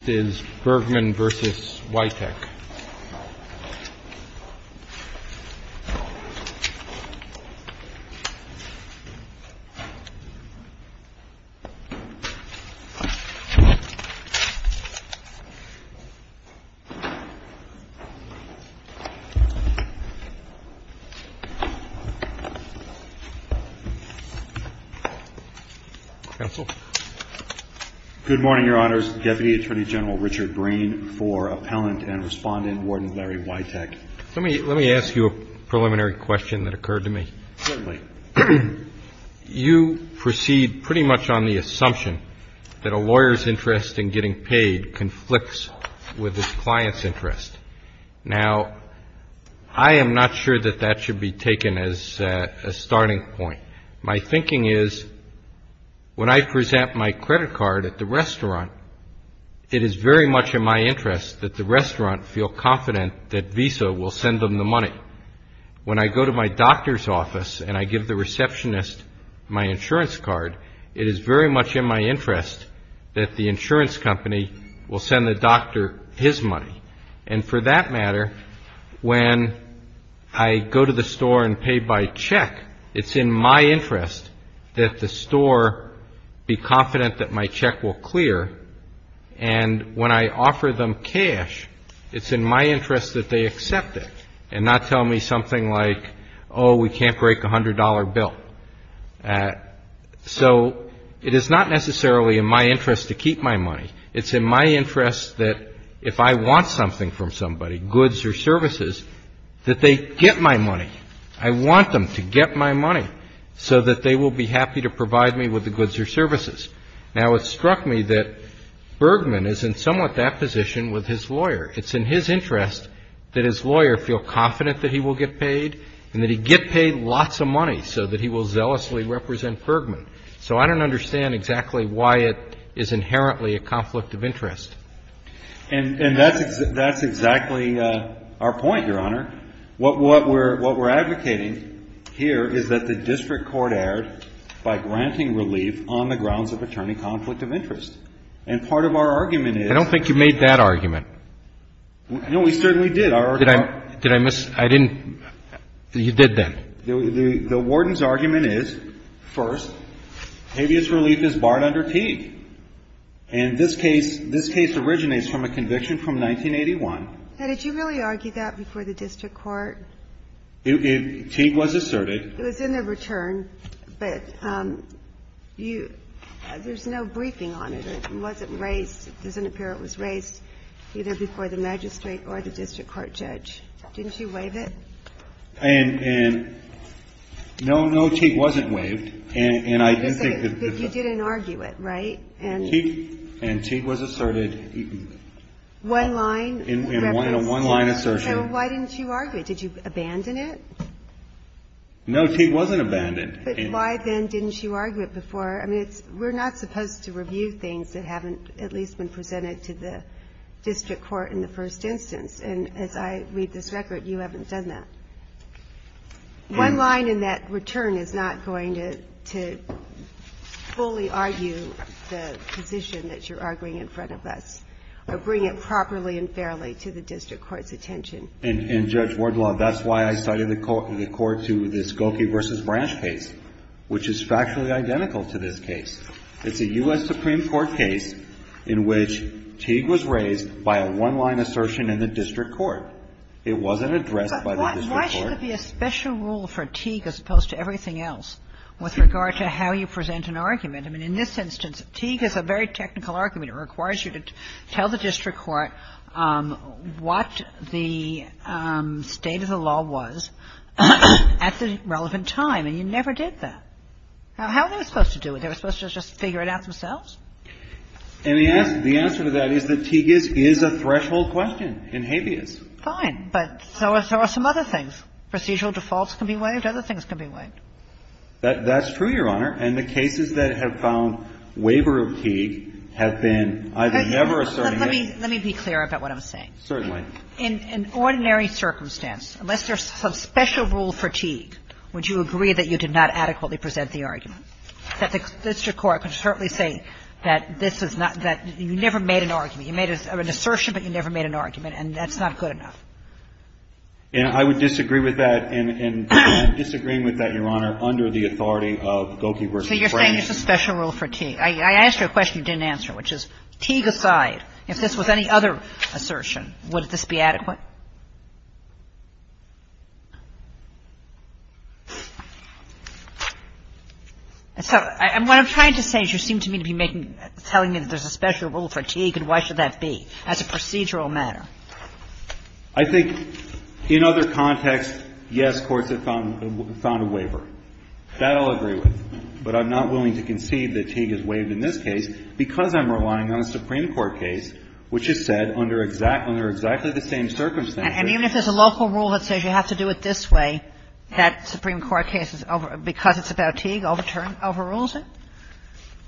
This is Bergman v. Witek. DEPUTY ATTORNEY GENERAL RICHARD BRAIN Good morning, Your Honors. My name is Richard Brain, and I'm the Attorney General of the U.S. Department of Justice. And I'm here to respond in Warden Larry Witek. MR. WITEK Let me ask you a preliminary question that occurred to me. DEPUTY ATTORNEY GENERAL RICHARD BRAIN Certainly. MR. WITEK You proceed pretty much on the assumption that a lawyer's interest in getting paid conflicts with his client's interest. Now, I am not sure that that should be taken as a starting point. My thinking is when I present my credit card at the restaurant, it is very much in my interest that the restaurant feel confident that Visa will send them the money. When I go to my doctor's office and I give the receptionist my insurance card, it is very much in my interest that the insurance company will send the doctor his money. And for that matter, when I go to the store and pay by check, it's in my interest that the store be confident that my check will clear. And when I offer them cash, it's in my interest that they accept it and not tell me something like, oh, we can't break a $100 bill. So it is not necessarily in my interest to keep my money. It's in my interest that if I want something from somebody, goods or services, that they get my money. I want them to get my money so that they will be happy to provide me with the goods or services. Now, it struck me that Bergman is in somewhat that position with his lawyer. It's in his interest that his lawyer feel confident that he will get paid and that he get paid lots of money so that he will zealously represent Bergman. So I don't understand exactly why it is inherently a conflict of interest. And that's exactly our point, Your Honor. What we're advocating here is that the district court erred by granting relief on the grounds of attorney conflict of interest. And part of our argument is – I don't think you made that argument. No, we certainly did. Did I miss – I didn't – you did then. The warden's argument is, first, habeas relief is barred under Teague. And this case – this case originates from a conviction from 1981. Now, did you really argue that before the district court? Teague was asserted. It was in the return, but you – there's no briefing on it. It wasn't raised. It doesn't appear it was raised either before the magistrate or the district court judge. Didn't you waive it? And no, no, Teague wasn't waived. And I didn't think that – But you didn't argue it, right? And Teague was asserted. One line? One line assertion. So why didn't you argue it? Did you abandon it? No, Teague wasn't abandoned. But why, then, didn't you argue it before? I mean, it's – we're not supposed to review things that haven't at least been presented to the district court in the first instance. And as I read this record, you haven't done that. One line in that return is not going to fully argue the position that you're arguing in front of us or bring it properly and fairly to the district court's attention. And, Judge Wardlaw, that's why I cited the court to the Skokie v. Branch case, which is factually identical to this case. It's a U.S. Supreme Court case in which Teague was raised by a one-line assertion in the district court. It wasn't addressed by the district court. But why should there be a special rule for Teague as opposed to everything else with regard to how you present an argument? I mean, in this instance, Teague is a very technical argument. It requires you to tell the district court what the state of the law was at the relevant time, and you never did that. How are they supposed to do it? They were supposed to just figure it out themselves? And the answer to that is that Teague is a threshold question in habeas. Fine. But so are some other things. Procedural defaults can be waived. Other things can be waived. That's true, Your Honor. And the cases that have found waiver of Teague have been either never asserting it. Let me be clear about what I'm saying. Certainly. In ordinary circumstance, unless there's some special rule for Teague, would you agree that you did not adequately present the argument? That the district court could certainly say that this is not that you never made an argument. You made an assertion, but you never made an argument. And that's not good enough. And I would disagree with that, and disagreeing with that, Your Honor, under the authority of Gokey v. Frank. So you're saying there's a special rule for Teague. I asked you a question you didn't answer, which is, Teague aside, if this was any other assertion, would this be adequate? So what I'm trying to say is you seem to me to be telling me that there's a special rule for Teague, and why should that be as a procedural matter. I think in other contexts, yes, courts have found a waiver. That I'll agree with. But I'm not willing to concede that Teague is waived in this case because I'm relying on a Supreme Court case which has said under exactly the same circumstances And even if there's a local rule that says you have to do it this way, that Supreme Court case, because it's about Teague, overrules it?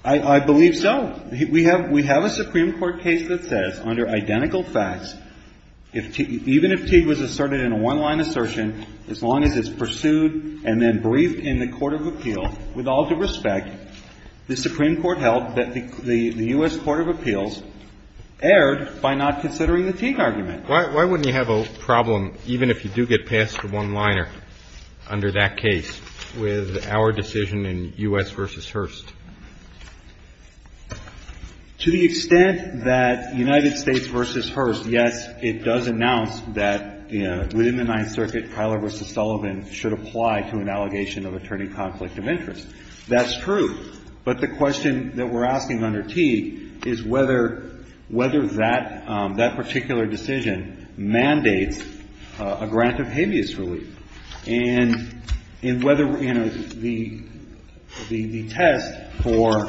I believe so. We have a Supreme Court case that says under identical facts, even if Teague was asserted in a one-line assertion, as long as it's pursued and then briefed in the court of appeal, with all due respect, the Supreme Court held that the U.S. Court of Appeals erred by not considering the Teague argument. Why wouldn't you have a problem, even if you do get past the one-liner under that case, with our decision in U.S. v. Hearst? To the extent that United States v. Hearst, yes, it does announce that within the Ninth Circuit, Tyler v. Sullivan should apply to an allegation of attorney conflict of interest. That's true. But the question that we're asking under Teague is whether that particular decision mandates a grant of habeas relief, and in whether, you know, the test for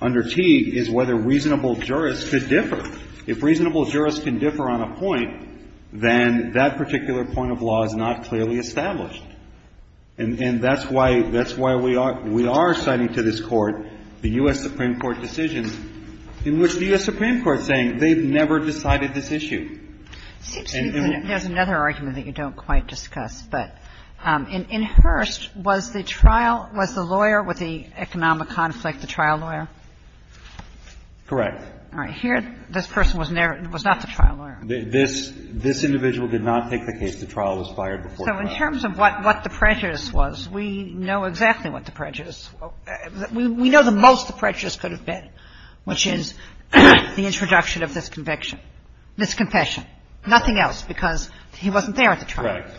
under Teague is whether reasonable jurists could differ. If reasonable jurists can differ on a point, then that particular point of law is not clearly established. And that's why we are citing to this Court the U.S. Supreme Court decision in which the U.S. Supreme Court is saying they've never decided this issue. And in the case of Hearst, there's another argument that you don't quite discuss. But in Hearst, was the trial, was the lawyer with the economic conflict the trial lawyer? Correct. All right. Here, this person was not the trial lawyer. This individual did not take the case. The trial was fired before trial. So in terms of what the prejudice was, we know exactly what the prejudice was. We know the most the prejudice could have been, which is the introduction of this conviction, this confession. Nothing else, because he wasn't there at the trial. Correct.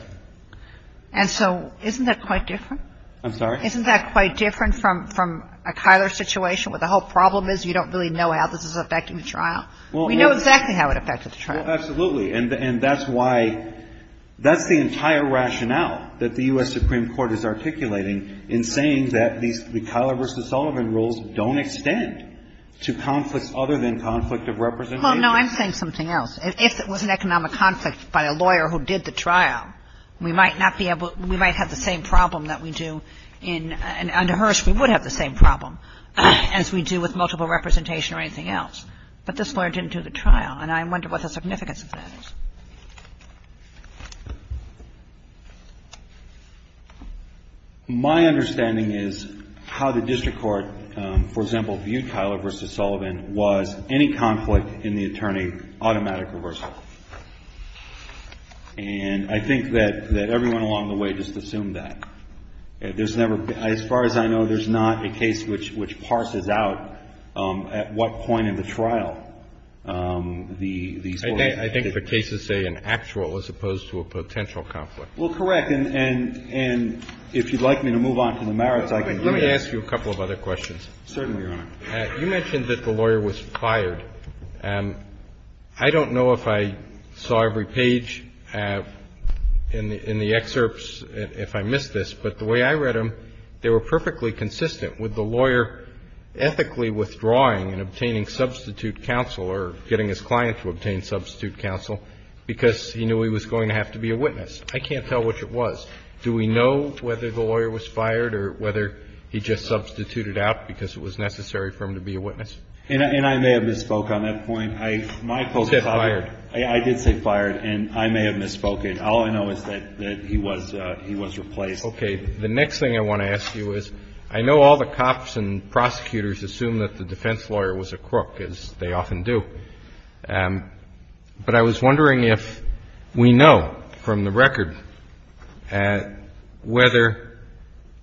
And so isn't that quite different? I'm sorry? Isn't that quite different from a Kyler situation where the whole problem is you don't really know how this is affecting the trial? We know exactly how it affected the trial. Well, absolutely. And that's why the entire rationale that the U.S. Supreme Court is articulating in saying that these, the Kyler v. Sullivan rules don't extend to conflicts other than conflict of representation. Well, no. I'm saying something else. If it was an economic conflict by a lawyer who did the trial, we might not be able to, we might have the same problem that we do in, under Hearst, we would have the same problem as we do with multiple representation or anything else. But this lawyer didn't do the trial. And I wonder what the significance of that is. My understanding is how the district court, for example, viewed Kyler v. Sullivan was any conflict in the attorney, automatic reversal. And I think that everyone along the way just assumed that. There's never, as far as I know, there's not a case which parses out at what point in the trial. I think the cases say an actual as opposed to a potential conflict. Well, correct. And if you'd like me to move on to the merits, I can do that. Let me ask you a couple of other questions. Certainly, Your Honor. You mentioned that the lawyer was fired. I don't know if I saw every page in the excerpts, if I missed this, but the way I read them, they were perfectly consistent with the lawyer ethically withdrawing and obtaining substitute counsel or getting his client to obtain substitute counsel because he knew he was going to have to be a witness. I can't tell which it was. Do we know whether the lawyer was fired or whether he just substituted out because it was necessary for him to be a witness? And I may have misspoke on that point. I did say fired, and I may have misspoke. All I know is that he was replaced. Okay. The next thing I want to ask you is, I know all the cops and prosecutors assume that the defense lawyer was a crook, as they often do. But I was wondering if we know from the record whether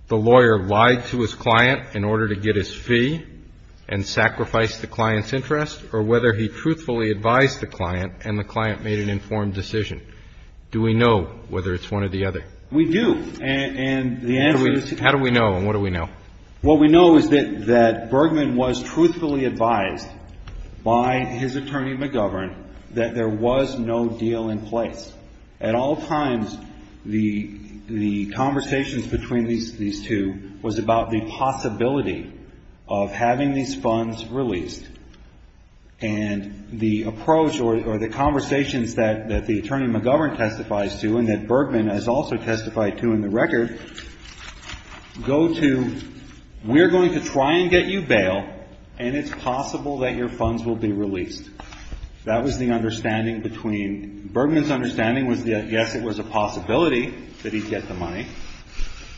the lawyer lied to his client in order to get his fee and sacrificed the client's interest, or whether he truthfully advised the client and the client made an informed decision. Do we know whether it's one or the other? We do. And the answer is yes. How do we know, and what do we know? What we know is that Bergman was truthfully advised by his attorney, McGovern, that there was no deal in place. At all times, the conversations between these two was about the possibility of having these funds released. And the approach or the conversations that the attorney, McGovern, testifies to and that Bergman has also testified to in the record, go to, we're going to try and get you bail, and it's possible that your funds will be released. That was the understanding between, Bergman's understanding was that, yes, it was a possibility that he'd get the money,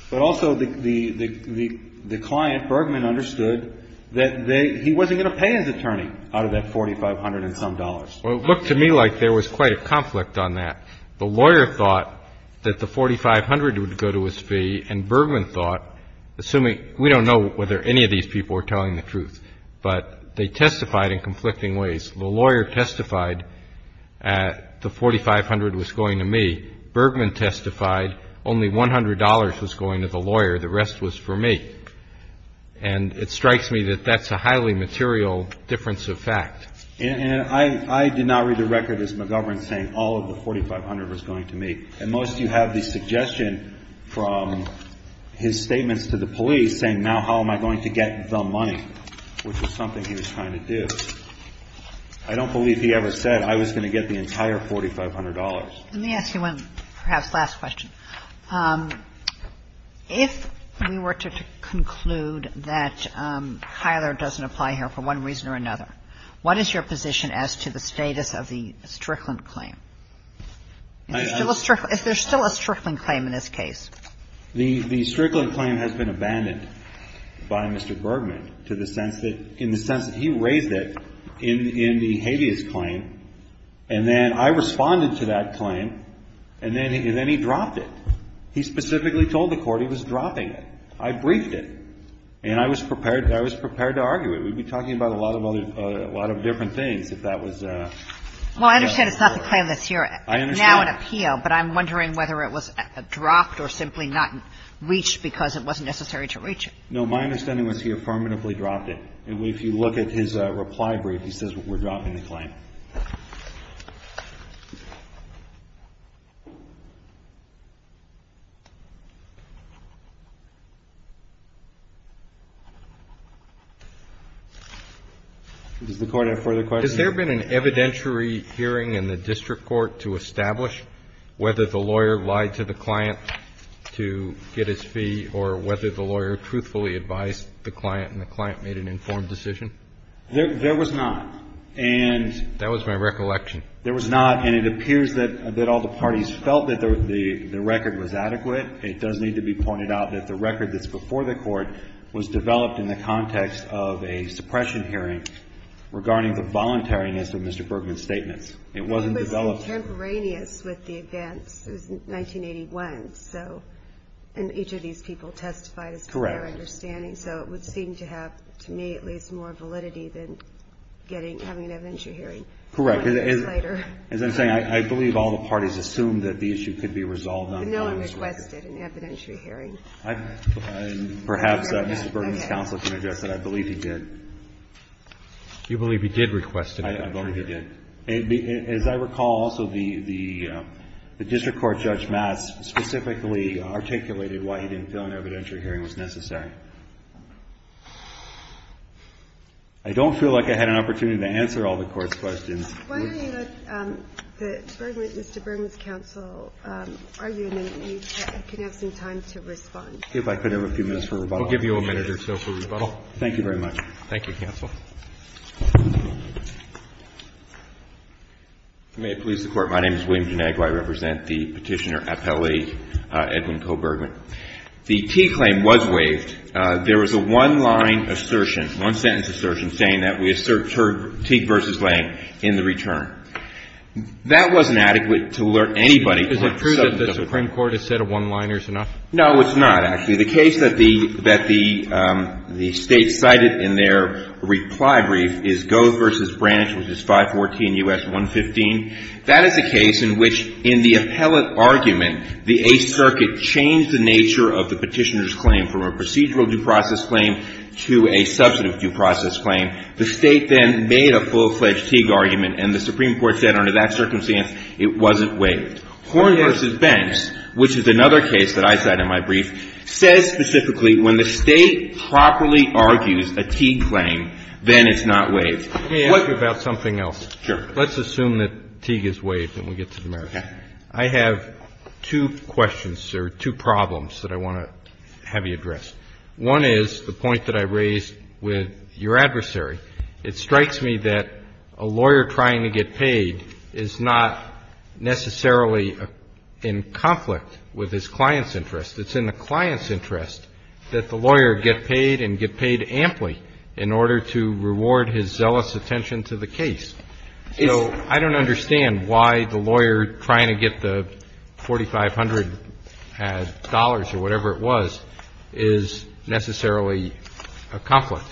but also the client, Bergman, understood that he wasn't going to pay his attorney out of that $4,500 and some dollars. Well, it looked to me like there was quite a conflict on that. The lawyer thought that the $4,500 would go to his fee, and Bergman thought, assuming we don't know whether any of these people are telling the truth, but they testified in conflicting ways. The lawyer testified that the $4,500 was going to me. Bergman testified only $100 was going to the lawyer. The rest was for me. And it strikes me that that's a highly material difference of fact. And I did not read the record as McGovern saying all of the $4,500 was going to me. And most of you have the suggestion from his statements to the police saying, now how am I going to get the money, which is something he was trying to do. I don't believe he ever said I was going to get the entire $4,500. Let me ask you one perhaps last question. If we were to conclude that Kyler doesn't apply here for one reason or another, what is your position as to the status of the Strickland claim? Is there still a Strickland claim in this case? The Strickland claim has been abandoned by Mr. Bergman to the sense that he raised it in the habeas claim. And then I responded to that claim, and then he dropped it. He specifically told the Court he was dropping it. I briefed it. And I was prepared to argue it. We'd be talking about a lot of other, a lot of different things if that was the case. Well, I understand it's not the claim that's here now in appeal, but I'm wondering whether it was dropped or simply not reached because it wasn't necessary to reach it. No. My understanding was he affirmatively dropped it. If you look at his reply brief, he says we're dropping the claim. Does the Court have further questions? Has there been an evidentiary hearing in the district court to establish whether the lawyer lied to the client to get his fee or whether the lawyer truthfully advised the client and the client made an informed decision? There was not. That was my recollection. There was not. And it appears that all the parties felt that the record was adequate. It does need to be pointed out that the record that's before the Court was developed in the context of a suppression hearing regarding the voluntariness of Mr. Bergman's statements. It wasn't developed. It was contemporaneous with the events. Correct. As I'm saying, I believe all the parties assumed that the issue could be resolved on the client's record. But no one requested an evidentiary hearing. Perhaps Mr. Bergman's counsel can address that. I believe he did. You believe he did request an evidentiary hearing. I believe he did. As I recall, also, the district court Judge Matz specifically articulated why he didn't feel an evidentiary hearing was necessary. I don't feel like I had an opportunity to answer all the Court's questions. Why don't you let Mr. Bergman's counsel argue, and then you can have some time to respond. If I could have a few minutes for rebuttal. We'll give you a minute or so for rebuttal. Thank you very much. Thank you, counsel. If you may, please, the Court. My name is William Genagli. I represent the Petitioner Appellee, Edwin Coe Bergman. In the case of the Supreme Court, the Teague claim was waived. There was a one-line assertion, one-sentence assertion, saying that we assert Teague v. Lang in the return. That wasn't adequate to alert anybody. Is it true that the Supreme Court has said a one-liner is enough? No, it's not, actually. The case that the State cited in their reply brief is Gove v. Branch, which is 514 U.S. 115. That is a case in which, in the appellate argument, the Eighth Circuit changed the nature of the Petitioner's claim from a procedural due process claim to a substantive due process claim. The State then made a full-fledged Teague argument, and the Supreme Court said under that circumstance it wasn't waived. Horne v. Benx, which is another case that I cite in my brief, says specifically when the State properly argues a Teague claim, then it's not waived. Let me ask you about something else. Sure. Let's assume that Teague is waived and we get to the merits. I have two questions or two problems that I want to have you address. One is the point that I raised with your adversary. It strikes me that a lawyer trying to get paid is not necessarily in conflict with his client's interest. It's in the client's interest that the lawyer get paid and get paid amply in order to reward his zealous attention to the case. So I don't understand why the lawyer trying to get the $4,500 or whatever it was is necessarily a conflict.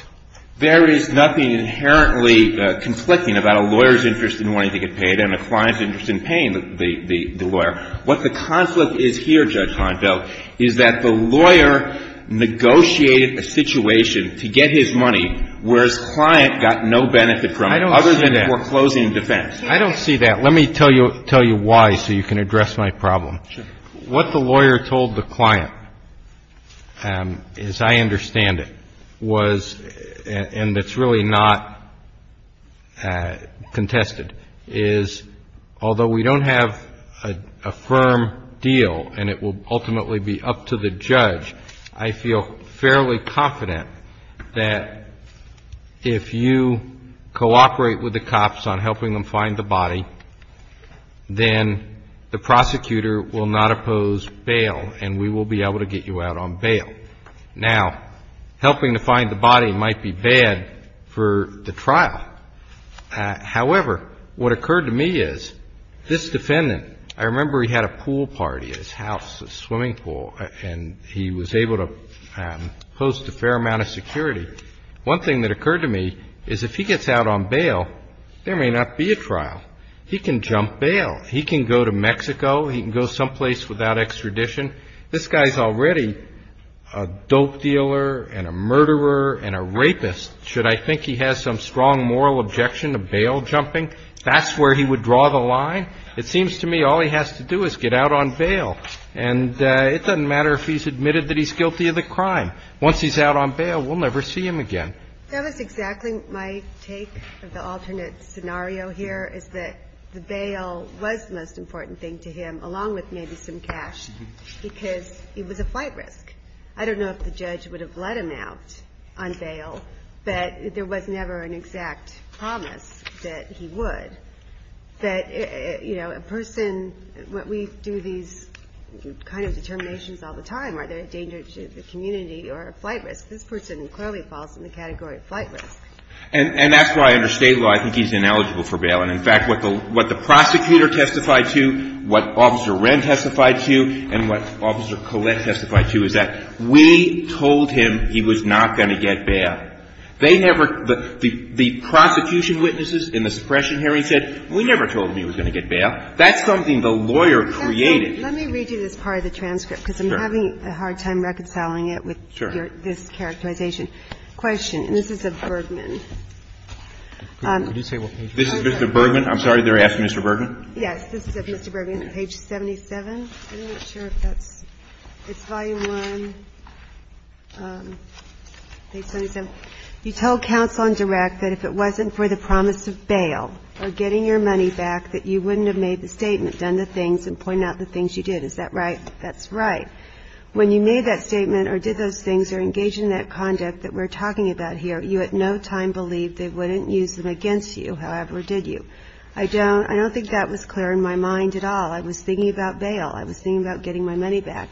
There is nothing inherently conflicting about a lawyer's interest in wanting to get paid and a client's interest in paying the lawyer. What the conflict is here, Judge Honfeld, is that the lawyer negotiated a situation to get his money, whereas client got no benefit from it. I don't see that. Other than foreclosing defense. I don't see that. Let me tell you why so you can address my problem. Sure. What the lawyer told the client, as I understand it, was, and it's really not contested, is although we don't have a firm deal and it will ultimately be up to the judge, I feel fairly confident that if you cooperate with the cops on helping them find the body, then the prosecutor will not oppose bail and we will be able to get you out on bail. Now, helping to find the body might be bad for the trial. However, what occurred to me is this defendant, I remember he had a pool party at his house, a swimming pool, and he was able to host a fair amount of security. One thing that occurred to me is if he gets out on bail, there may not be a trial. He can jump bail. He can go to Mexico. He can go someplace without extradition. This guy's already a dope dealer and a murderer and a rapist. Should I think he has some strong moral objection to bail jumping? That's where he would draw the line? It seems to me all he has to do is get out on bail. And it doesn't matter if he's admitted that he's guilty of the crime. Once he's out on bail, we'll never see him again. That was exactly my take of the alternate scenario here, is that the bail was the most important thing to him, along with maybe some cash, because it was a flight risk. I don't know if the judge would have let him out on bail, but there was never an exact promise that he would. A person, we do these kind of determinations all the time. Are they a danger to the community or a flight risk? This person clearly falls in the category of flight risk. And that's why under State law I think he's ineligible for bail. And, in fact, what the prosecutor testified to, what Officer Wren testified to, and what Officer Collette testified to is that we told him he was not going to get bail. They never, the prosecution witnesses in the suppression hearing said, we never told him he was going to get bail. That's something the lawyer created. Let me read you this part of the transcript, because I'm having a hard time reconciling it with this characterization. Question. This is of Bergman. Could you say what page it is? This is of Mr. Bergman. I'm sorry, they're asking Mr. Bergman. Yes. This is of Mr. Bergman, page 77. I'm not sure if that's, it's volume one, page 77. You told counsel in direct that if it wasn't for the promise of bail or getting your money back that you wouldn't have made the statement, done the things and pointed out the things you did. Is that right? That's right. When you made that statement or did those things or engaged in that conduct that we're talking about here, you at no time believed they wouldn't use them against you, however did you? I don't think that was clear in my mind at all. I was thinking about bail. I was thinking about getting my money back.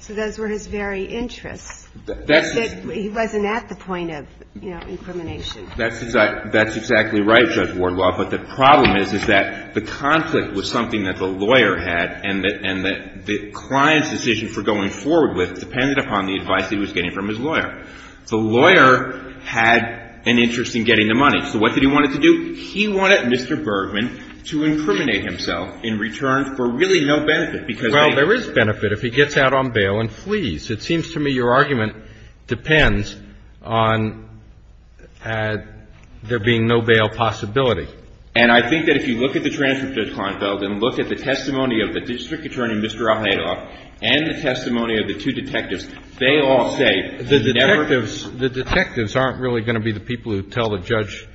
So those were his very interests. He wasn't at the point of, you know, incrimination. That's exactly right, Judge Wardwell. But the problem is, is that the conflict was something that the lawyer had and that the client's decision for going forward with depended upon the advice he was getting from his lawyer. The lawyer had an interest in getting the money. So what did he want it to do? He wanted Mr. Bergman to incriminate himself in return for really no benefit, because they Well, there is benefit if he gets out on bail and flees. It seems to me your argument depends on there being no bail possibility. And I think that if you look at the transcript, Judge Klinefeld, and look at the testimony of the district attorney, Mr. Ahedoff, and the testimony of the two detectives, they all say The detectives aren't really going to be the people who tell the judge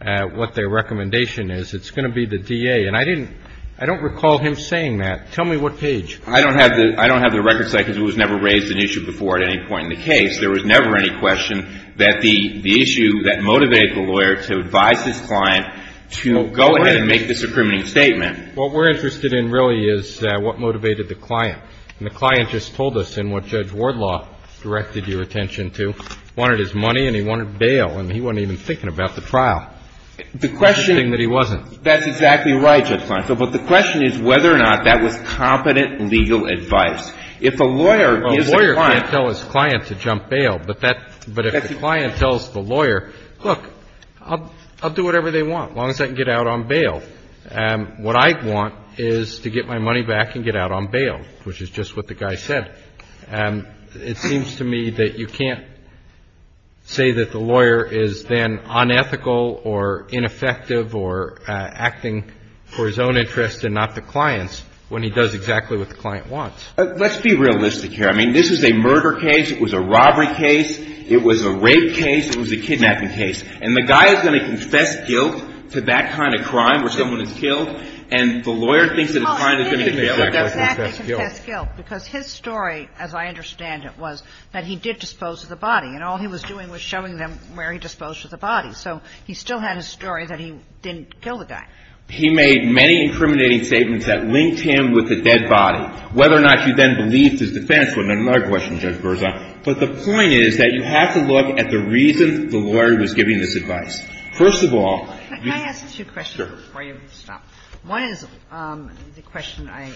what their recommendation is. It's going to be the DA. And I didn't – I don't recall him saying that. Tell me what page. I don't have the – I don't have the record site because it was never raised in issue before at any point in the case. There was never any question that the issue that motivated the lawyer to advise his client to go ahead and make this incriminating statement What we're interested in really is what motivated the client. And the client just told us in what Judge Wardlaw directed your attention to, wanted his money and he wanted bail, and he wasn't even thinking about the trial. The question It's interesting that he wasn't. That's exactly right, Judge Klinefeld. But the question is whether or not that was competent legal advice. If a lawyer gives a client A lawyer can't tell his client to jump bail. But if the client tells the lawyer, look, I'll do whatever they want as long as I can get out on bail. What I want is to get my money back and get out on bail, which is just what the guy said. It seems to me that you can't say that the lawyer is then unethical or ineffective or acting for his own interest and not the client's when he does exactly what the client wants. Let's be realistic here. I mean, this is a murder case. It was a robbery case. It was a rape case. It was a kidnapping case. And the guy is going to confess guilt to that kind of crime where someone is killed, and the lawyer thinks that the client is going to get bail. He didn't exactly confess guilt because his story, as I understand it, was that he did dispose of the body. And all he was doing was showing them where he disposed of the body. So he still had a story that he didn't kill the guy. He made many incriminating statements that linked him with the dead body. Whether or not he then believed his defense was another question, Judge Berzon. But the point is that you have to look at the reason the lawyer was giving this advice. First of all, you can't do that. Can I ask two questions before you stop? Sure. One is the question I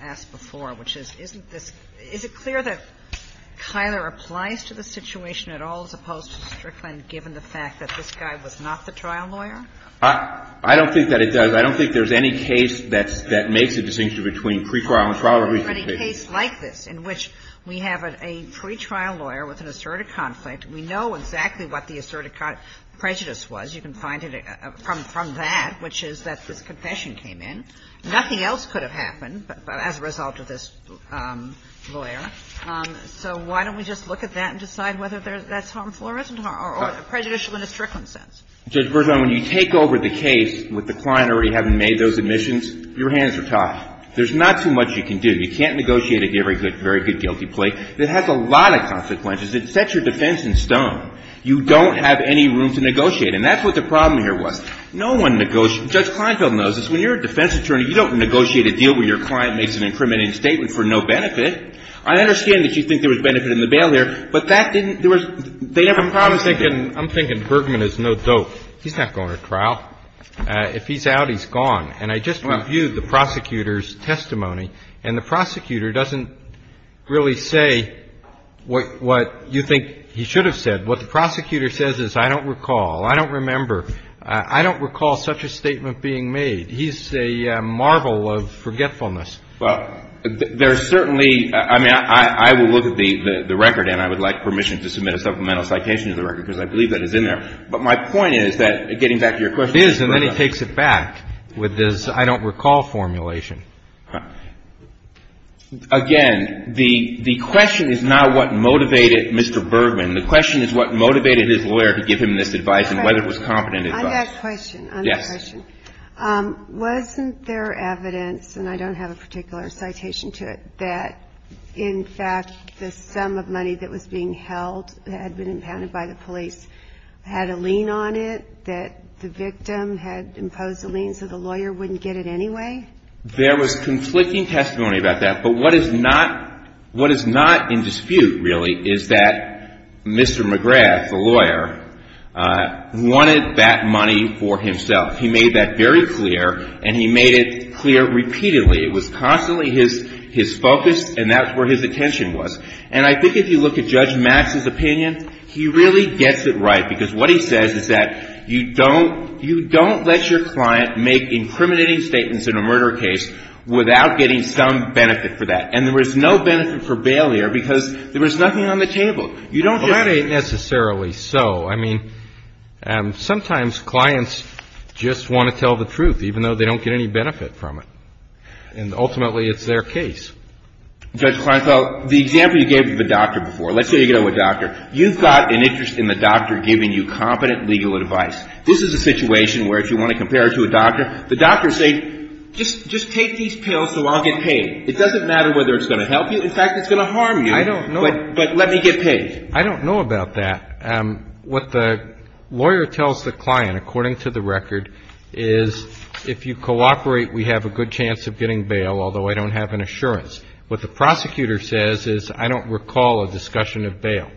asked before, which is, isn't this – is it clear that Kyler applies to the situation at all as opposed to Strickland, given the fact that this guy was not the trial lawyer? I don't think that it does. I don't think there's any case that's – that makes a distinction between pretrial and trial reconciliation. But a case like this in which we have a pretrial lawyer with an asserted conflict, we know exactly what the asserted prejudice was. You can find it from that, which is that this confession came in. Nothing else could have happened as a result of this lawyer. So why don't we just look at that and decide whether that's harmful or isn't harmful or prejudicial in a Strickland sense? Judge Berzon, when you take over the case with the client already having made those admissions, your hands are tied. There's not too much you can do. You can't negotiate a very good guilty plea. It has a lot of consequences. It sets your defense in stone. You don't have any room to negotiate. And that's what the problem here was. No one negotiates – Judge Kleinfeld knows this. When you're a defense attorney, you don't negotiate a deal where your client makes an incriminating statement for no benefit. I understand that you think there was benefit in the bail here, but that didn't – there was – they have a problem. I'm thinking – I'm thinking Bergman is no dope. He's not going to trial. If he's out, he's gone. And I just reviewed the prosecutor's testimony, and the prosecutor doesn't really say what you think he should have said. What the prosecutor says is, I don't recall, I don't remember. I don't recall such a statement being made. He's a marvel of forgetfulness. Well, there's certainly – I mean, I will look at the record, and I would like permission to submit a supplemental citation to the record, because I believe that is in there. But my point is that, getting back to your question – It is, and then he takes it back with this I don't recall formulation. Again, the question is not what motivated Mr. Bergman. The question is what motivated his lawyer to give him this advice and whether it was competent advice. I've got a question. Yes. Wasn't there evidence, and I don't have a particular citation to it, that, in fact, the sum of money that was being held had been impounded by the police had a lien on it, that the victim had imposed a lien so the lawyer wouldn't get it anyway? There was conflicting testimony about that. But what is not in dispute, really, is that Mr. McGrath, the lawyer, wanted that money for himself. He made that very clear, and he made it clear repeatedly. It was constantly his focus, and that's where his attention was. And I think if you look at Judge Max's opinion, he really gets it right, because what he says is that you don't let your client make incriminating statements in a murder case without getting some benefit for that. And there was no benefit for bail here because there was nothing on the table. You don't just – Well, that ain't necessarily so. I mean, sometimes clients just want to tell the truth, even though they don't get any benefit from it. And ultimately, it's their case. Judge Kleinfeld, the example you gave to the doctor before – let's say you go to a doctor. You've got an interest in the doctor giving you competent legal advice. This is a situation where if you want to compare it to a doctor, the doctor says, just take these pills so I'll get paid. It doesn't matter whether it's going to help you. In fact, it's going to harm you. I don't know. But let me get paid. I don't know about that. What the lawyer tells the client, according to the record, is if you cooperate, we have a good chance of getting bail, although I don't have an assurance. What the prosecutor says is I don't recall a discussion of bail.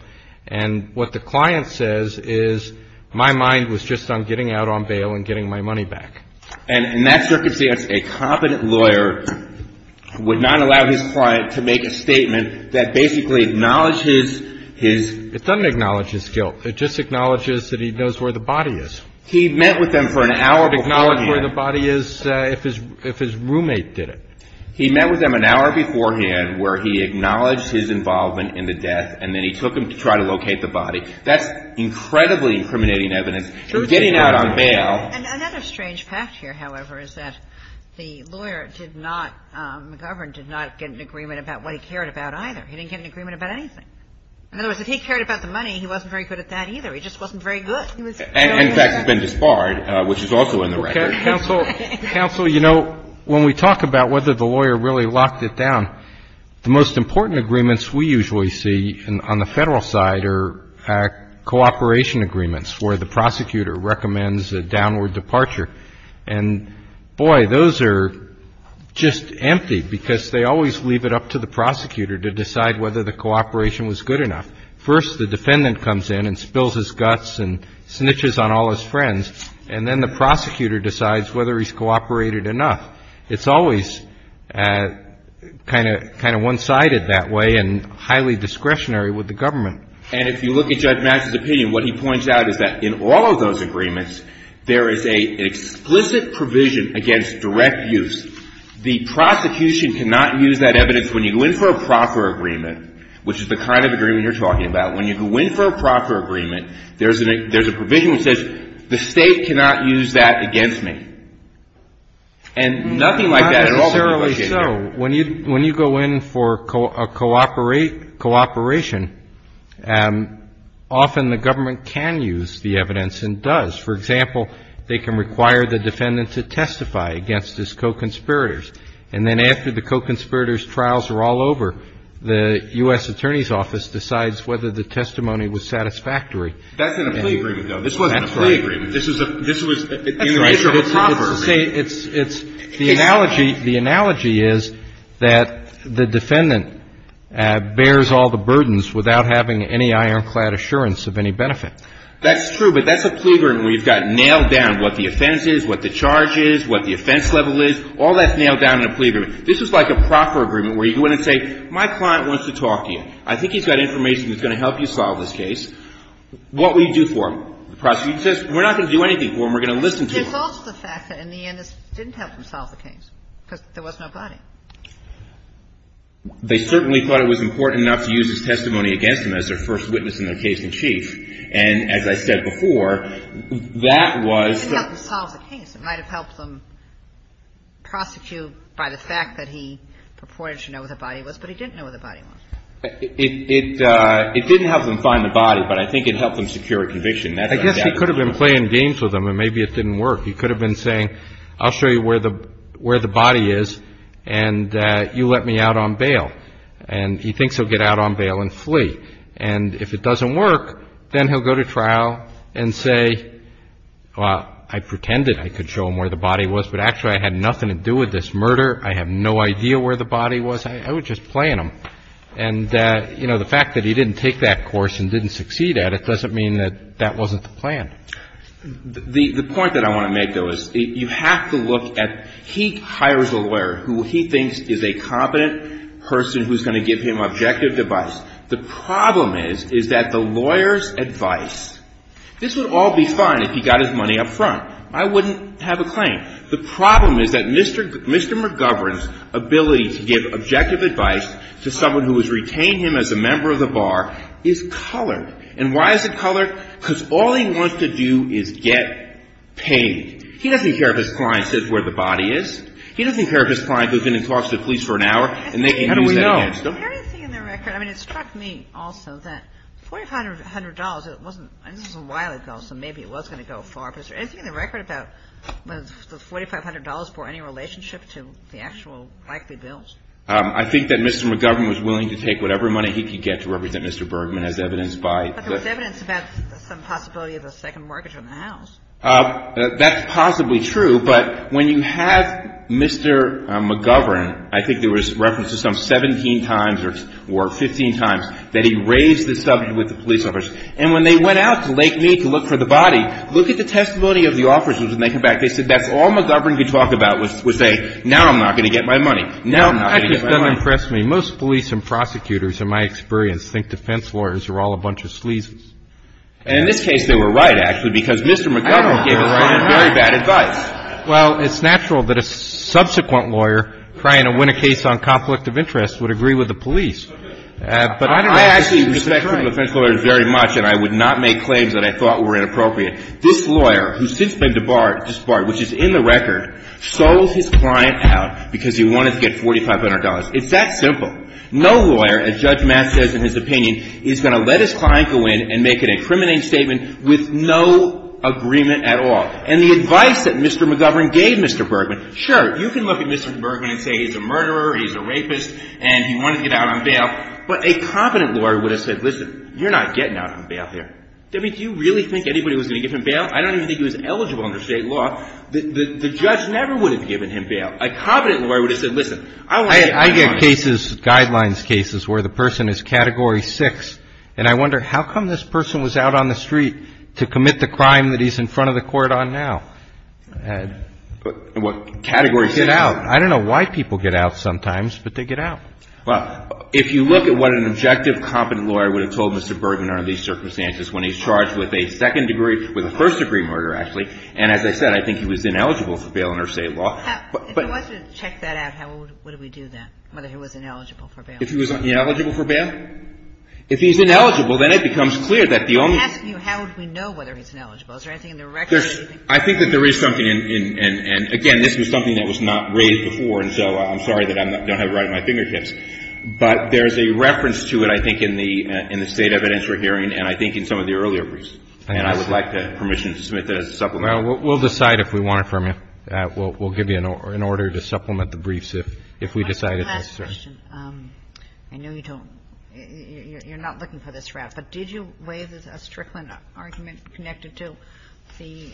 And what the client says is my mind was just on getting out on bail and getting my money back. And in that circumstance, a competent lawyer would not allow his client to make a statement that basically acknowledges his – It doesn't acknowledge his guilt. It just acknowledges that he knows where the body is. He met with them for an hour beforehand. He acknowledged where the body is if his roommate did it. He met with them an hour beforehand where he acknowledged his involvement in the death and then he took them to try to locate the body. That's incredibly incriminating evidence. Getting out on bail – Another strange fact here, however, is that the lawyer did not – McGovern did not get an agreement about what he cared about either. He didn't get an agreement about anything. In other words, if he cared about the money, he wasn't very good at that either. He just wasn't very good. He was – And, in fact, has been disbarred, which is also in the record. Counsel, you know, when we talk about whether the lawyer really locked it down, the most important agreements we usually see on the Federal side are cooperation agreements where the prosecutor recommends a downward departure. And, boy, those are just empty because they always leave it up to the prosecutor to decide whether the cooperation was good enough. First, the defendant comes in and spills his guts and snitches on all his friends, and then the prosecutor decides whether he's cooperated enough. It's always kind of one-sided that way and highly discretionary with the government. And if you look at Judge Mattis' opinion, what he points out is that in all of those agreements, there is an explicit provision against direct use. The prosecution cannot use that evidence when you go in for a proper agreement, which is the kind of agreement you're talking about. When you go in for a proper agreement, there's a provision that says, the State cannot use that against me. And nothing like that at all can be located there. Not necessarily so. When you go in for a cooperation, often the government can use the evidence and does. For example, they can require the defendant to testify against his co-conspirators. And then after the co-conspirators' trials are all over, the U.S. Attorney's Office decides whether the testimony was satisfactory. That's in a plea agreement, though. This wasn't a plea agreement. That's right. This is a – this was in the interest of a proper agreement. That's right. It's the analogy. The analogy is that the defendant bears all the burdens without having any ironclad assurance of any benefit. That's true. But that's a plea agreement where you've got nailed down what the offense is, what the charge is, what the offense level is. All that's nailed down in a plea agreement. This is like a proper agreement where you go in and say, my client wants to talk to you. I think he's got information that's going to help you solve this case. What will you do for him? The prosecutor says, we're not going to do anything for him. We're going to listen to him. There's also the fact that in the end it didn't help him solve the case because there was nobody. They certainly thought it was important enough to use his testimony against him as their first witness in their case in chief. And as I said before, that was the... It didn't help him solve the case. It might have helped him prosecute by the fact that he purported to know where the body was, but he didn't know where the body was. It didn't help him find the body, but I think it helped him secure a conviction. That's what I'm doubting. I guess he could have been playing games with him and maybe it didn't work. He could have been saying, I'll show you where the body is and you let me out on bail. And he thinks he'll get out on bail and flee. And if it doesn't work, then he'll go to trial and say, well, I pretended I could show him where the body was, but actually I had nothing to do with this murder. I have no idea where the body was. I was just playing him. And, you know, the fact that he didn't take that course and didn't succeed at it doesn't mean that that wasn't the plan. The point that I want to make, though, is you have to look at he hires a lawyer who he thinks is a competent person who's going to give him objective advice. The problem is, is that the lawyer's advice, this would all be fine if he got his money up front. I wouldn't have a claim. The problem is that Mr. McGovern's ability to give objective advice to someone who has retained him as a member of the bar is colored. And why is it colored? Because all he wants to do is get paid. He doesn't care if his client says where the body is. He doesn't care if his client goes in and talks to the police for an hour and they can use that against him. Anything in the record? I mean, it struck me also that $4,500, it wasn't a while ago, so maybe it was going to go far. But is there anything in the record about the $4,500 for any relationship to the actual likely bills? I think that Mr. McGovern was willing to take whatever money he could get to represent Mr. Bergman as evidenced by the But there was evidence about some possibility of a second mortgage on the house. That's possibly true. But when you have Mr. McGovern, I think there was reference to some 17 times or 15 times that he raised this subject with the police officers. And when they went out to Lake Mead to look for the body, look at the testimony of the officers and they come back. They said that's all McGovern could talk about was say, now I'm not going to get my money. Now I'm not going to get my money. That impressed me. Most police and prosecutors, in my experience, think defense lawyers are all a bunch of sleazes. And in this case, they were right, actually, because Mr. McGovern gave us very bad advice. Well, it's natural that a subsequent lawyer trying to win a case on conflict of interest would agree with the police. But I don't actually respect criminal defense lawyers very much, and I would not make claims that I thought were inappropriate. This lawyer, who's since been disbarred, which is in the record, sold his client out because he wanted to get $4,500. It's that simple. No lawyer, as Judge Mass says in his opinion, is going to let his client go in and make an incriminating statement with no agreement at all. And the advice that Mr. McGovern gave Mr. Bergman, sure, you can look at Mr. Bergman and say he's a murderer, he's a rapist, and he wanted to get out on bail, but a competent lawyer would have said, listen, you're not getting out on bail here. I mean, do you really think anybody was going to give him bail? I don't even think he was eligible under state law. The judge never would have given him bail. A competent lawyer would have said, listen, I want to get my money. I mean, there are cases, guidelines cases, where the person is Category 6, and I wonder, how come this person was out on the street to commit the crime that he's in front of the court on now? And what Category 6? Get out. I don't know why people get out sometimes, but they get out. Well, if you look at what an objective, competent lawyer would have told Mr. Bergman under these circumstances, when he's charged with a second degree, with a first degree murder, actually, and as I said, I think he was ineligible for bail under state law. If he wasn't, check that out. How would we do that, whether he was ineligible for bail? If he was ineligible for bail? If he's ineligible, then it becomes clear that the only one. I'm asking you, how would we know whether he's ineligible? Is there anything in the record? I think that there is something, and, again, this was something that was not raised before, and so I'm sorry that I don't have it right at my fingertips. But there's a reference to it, I think, in the State evidence we're hearing and I think in some of the earlier briefs. And I would like the permission to submit that as a supplement. Well, we'll decide if we want it from you. We'll give you an order to supplement the briefs if we decide it's necessary. One last question. I know you don't – you're not looking for this route, but did you waive a Strickland argument connected to the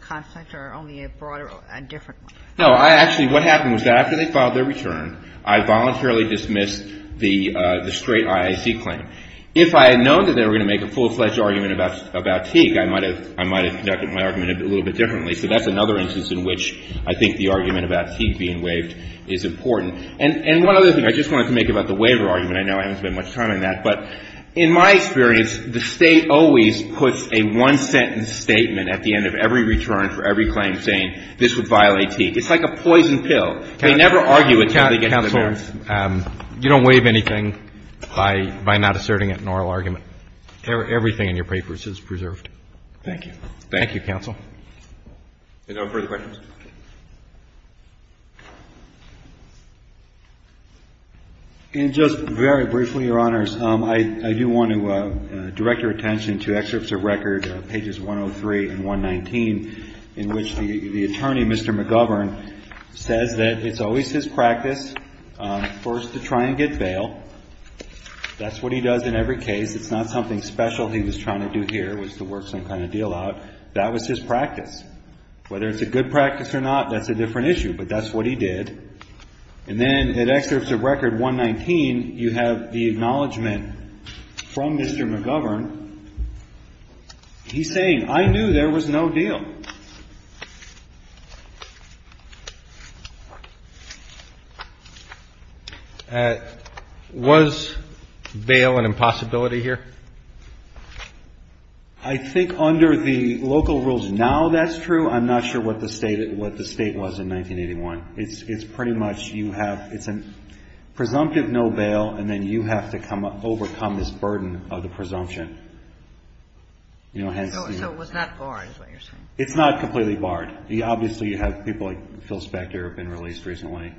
conflict or only a broader – a different one? No. I actually – what happened was that after they filed their return, I voluntarily dismissed the straight IAC claim. If I had known that they were going to make a full-fledged argument about Teague, I might have conducted my argument a little bit differently. So that's another instance in which I think the argument about Teague being waived is important. And one other thing I just wanted to make about the waiver argument, I know I haven't spent much time on that, but in my experience, the State always puts a one-sentence statement at the end of every return for every claim saying this would violate Teague. It's like a poison pill. They never argue it until they get to the merits. Counsel, you don't waive anything by not asserting it in an oral argument. Everything in your papers is preserved. Thank you. Thank you, Counsel. Are there no further questions? And just very briefly, Your Honors, I do want to direct your attention to excerpts of record, pages 103 and 119, in which the attorney, Mr. McGovern, says that it's always his practice first to try and get bail. That's what he does in every case. It's not something special he was trying to do here, was to work some kind of deal out. That was his practice. Whether it's a good practice or not, that's a different issue. But that's what he did. And then in excerpts of record 119, you have the acknowledgment from Mr. McGovern. He's saying, I knew there was no deal. So was bail an impossibility here? I think under the local rules now that's true. I'm not sure what the State was in 1981. It's pretty much you have an presumptive no bail, and then you have to overcome this burden of the presumption. So it was not barred is what you're saying? It's not completely barred. Obviously, you have people like Phil Spector have been released recently.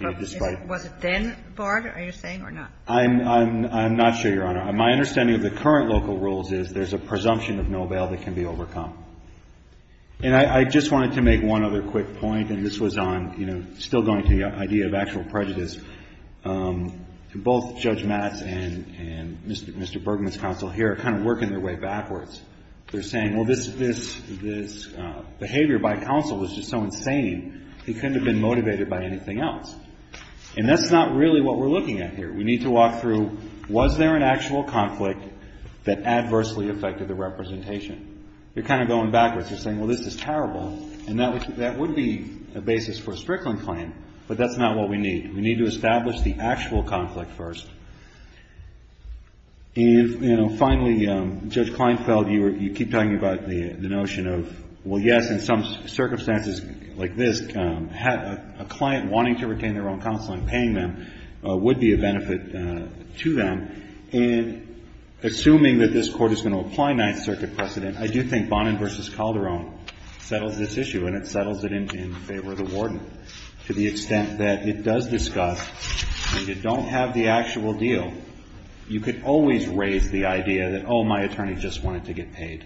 Was it then barred, are you saying, or not? I'm not sure, Your Honor. My understanding of the current local rules is there's a presumption of no bail that can be overcome. And I just wanted to make one other quick point, and this was on, you know, still going to the idea of actual prejudice. Both Judge Matz and Mr. Bergman's counsel here are kind of working their way backwards. They're saying, well, this behavior by counsel was just so insane, he couldn't have been motivated by anything else. And that's not really what we're looking at here. We need to walk through, was there an actual conflict that adversely affected the representation? They're kind of going backwards. They're saying, well, this is terrible. And that would be a basis for a Strickland claim, but that's not what we need. We need to establish the actual conflict first. And, you know, finally, Judge Kleinfeld, you keep talking about the notion of, well, yes, in some circumstances like this, a client wanting to retain their own counsel and paying them would be a benefit to them. And assuming that this Court is going to apply Ninth Circuit precedent, I do think Bonin v. Calderon settles this issue, and it settles it in favor of the warden, but to the extent that it does discuss and you don't have the actual deal, you could always raise the idea that, oh, my attorney just wanted to get paid.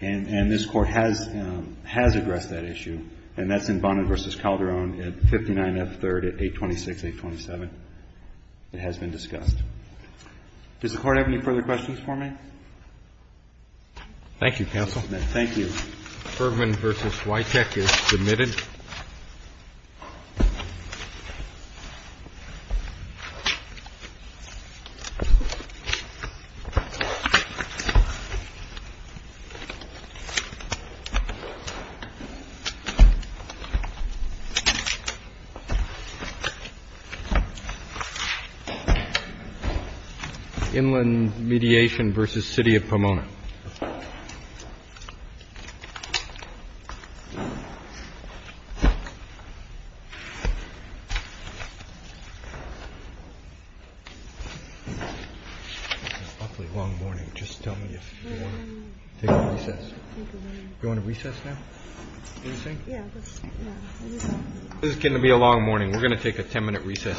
And this Court has addressed that issue, and that's in Bonin v. Calderon at 59F3rd at 826, 827. It has been discussed. Does the Court have any further questions for me? Roberts. Thank you, counsel. Thank you. Fergman v. Wycheck is submitted. Inland mediation v. City of Pomona. This is going to be a long morning. We're going to take a ten-minute recess first.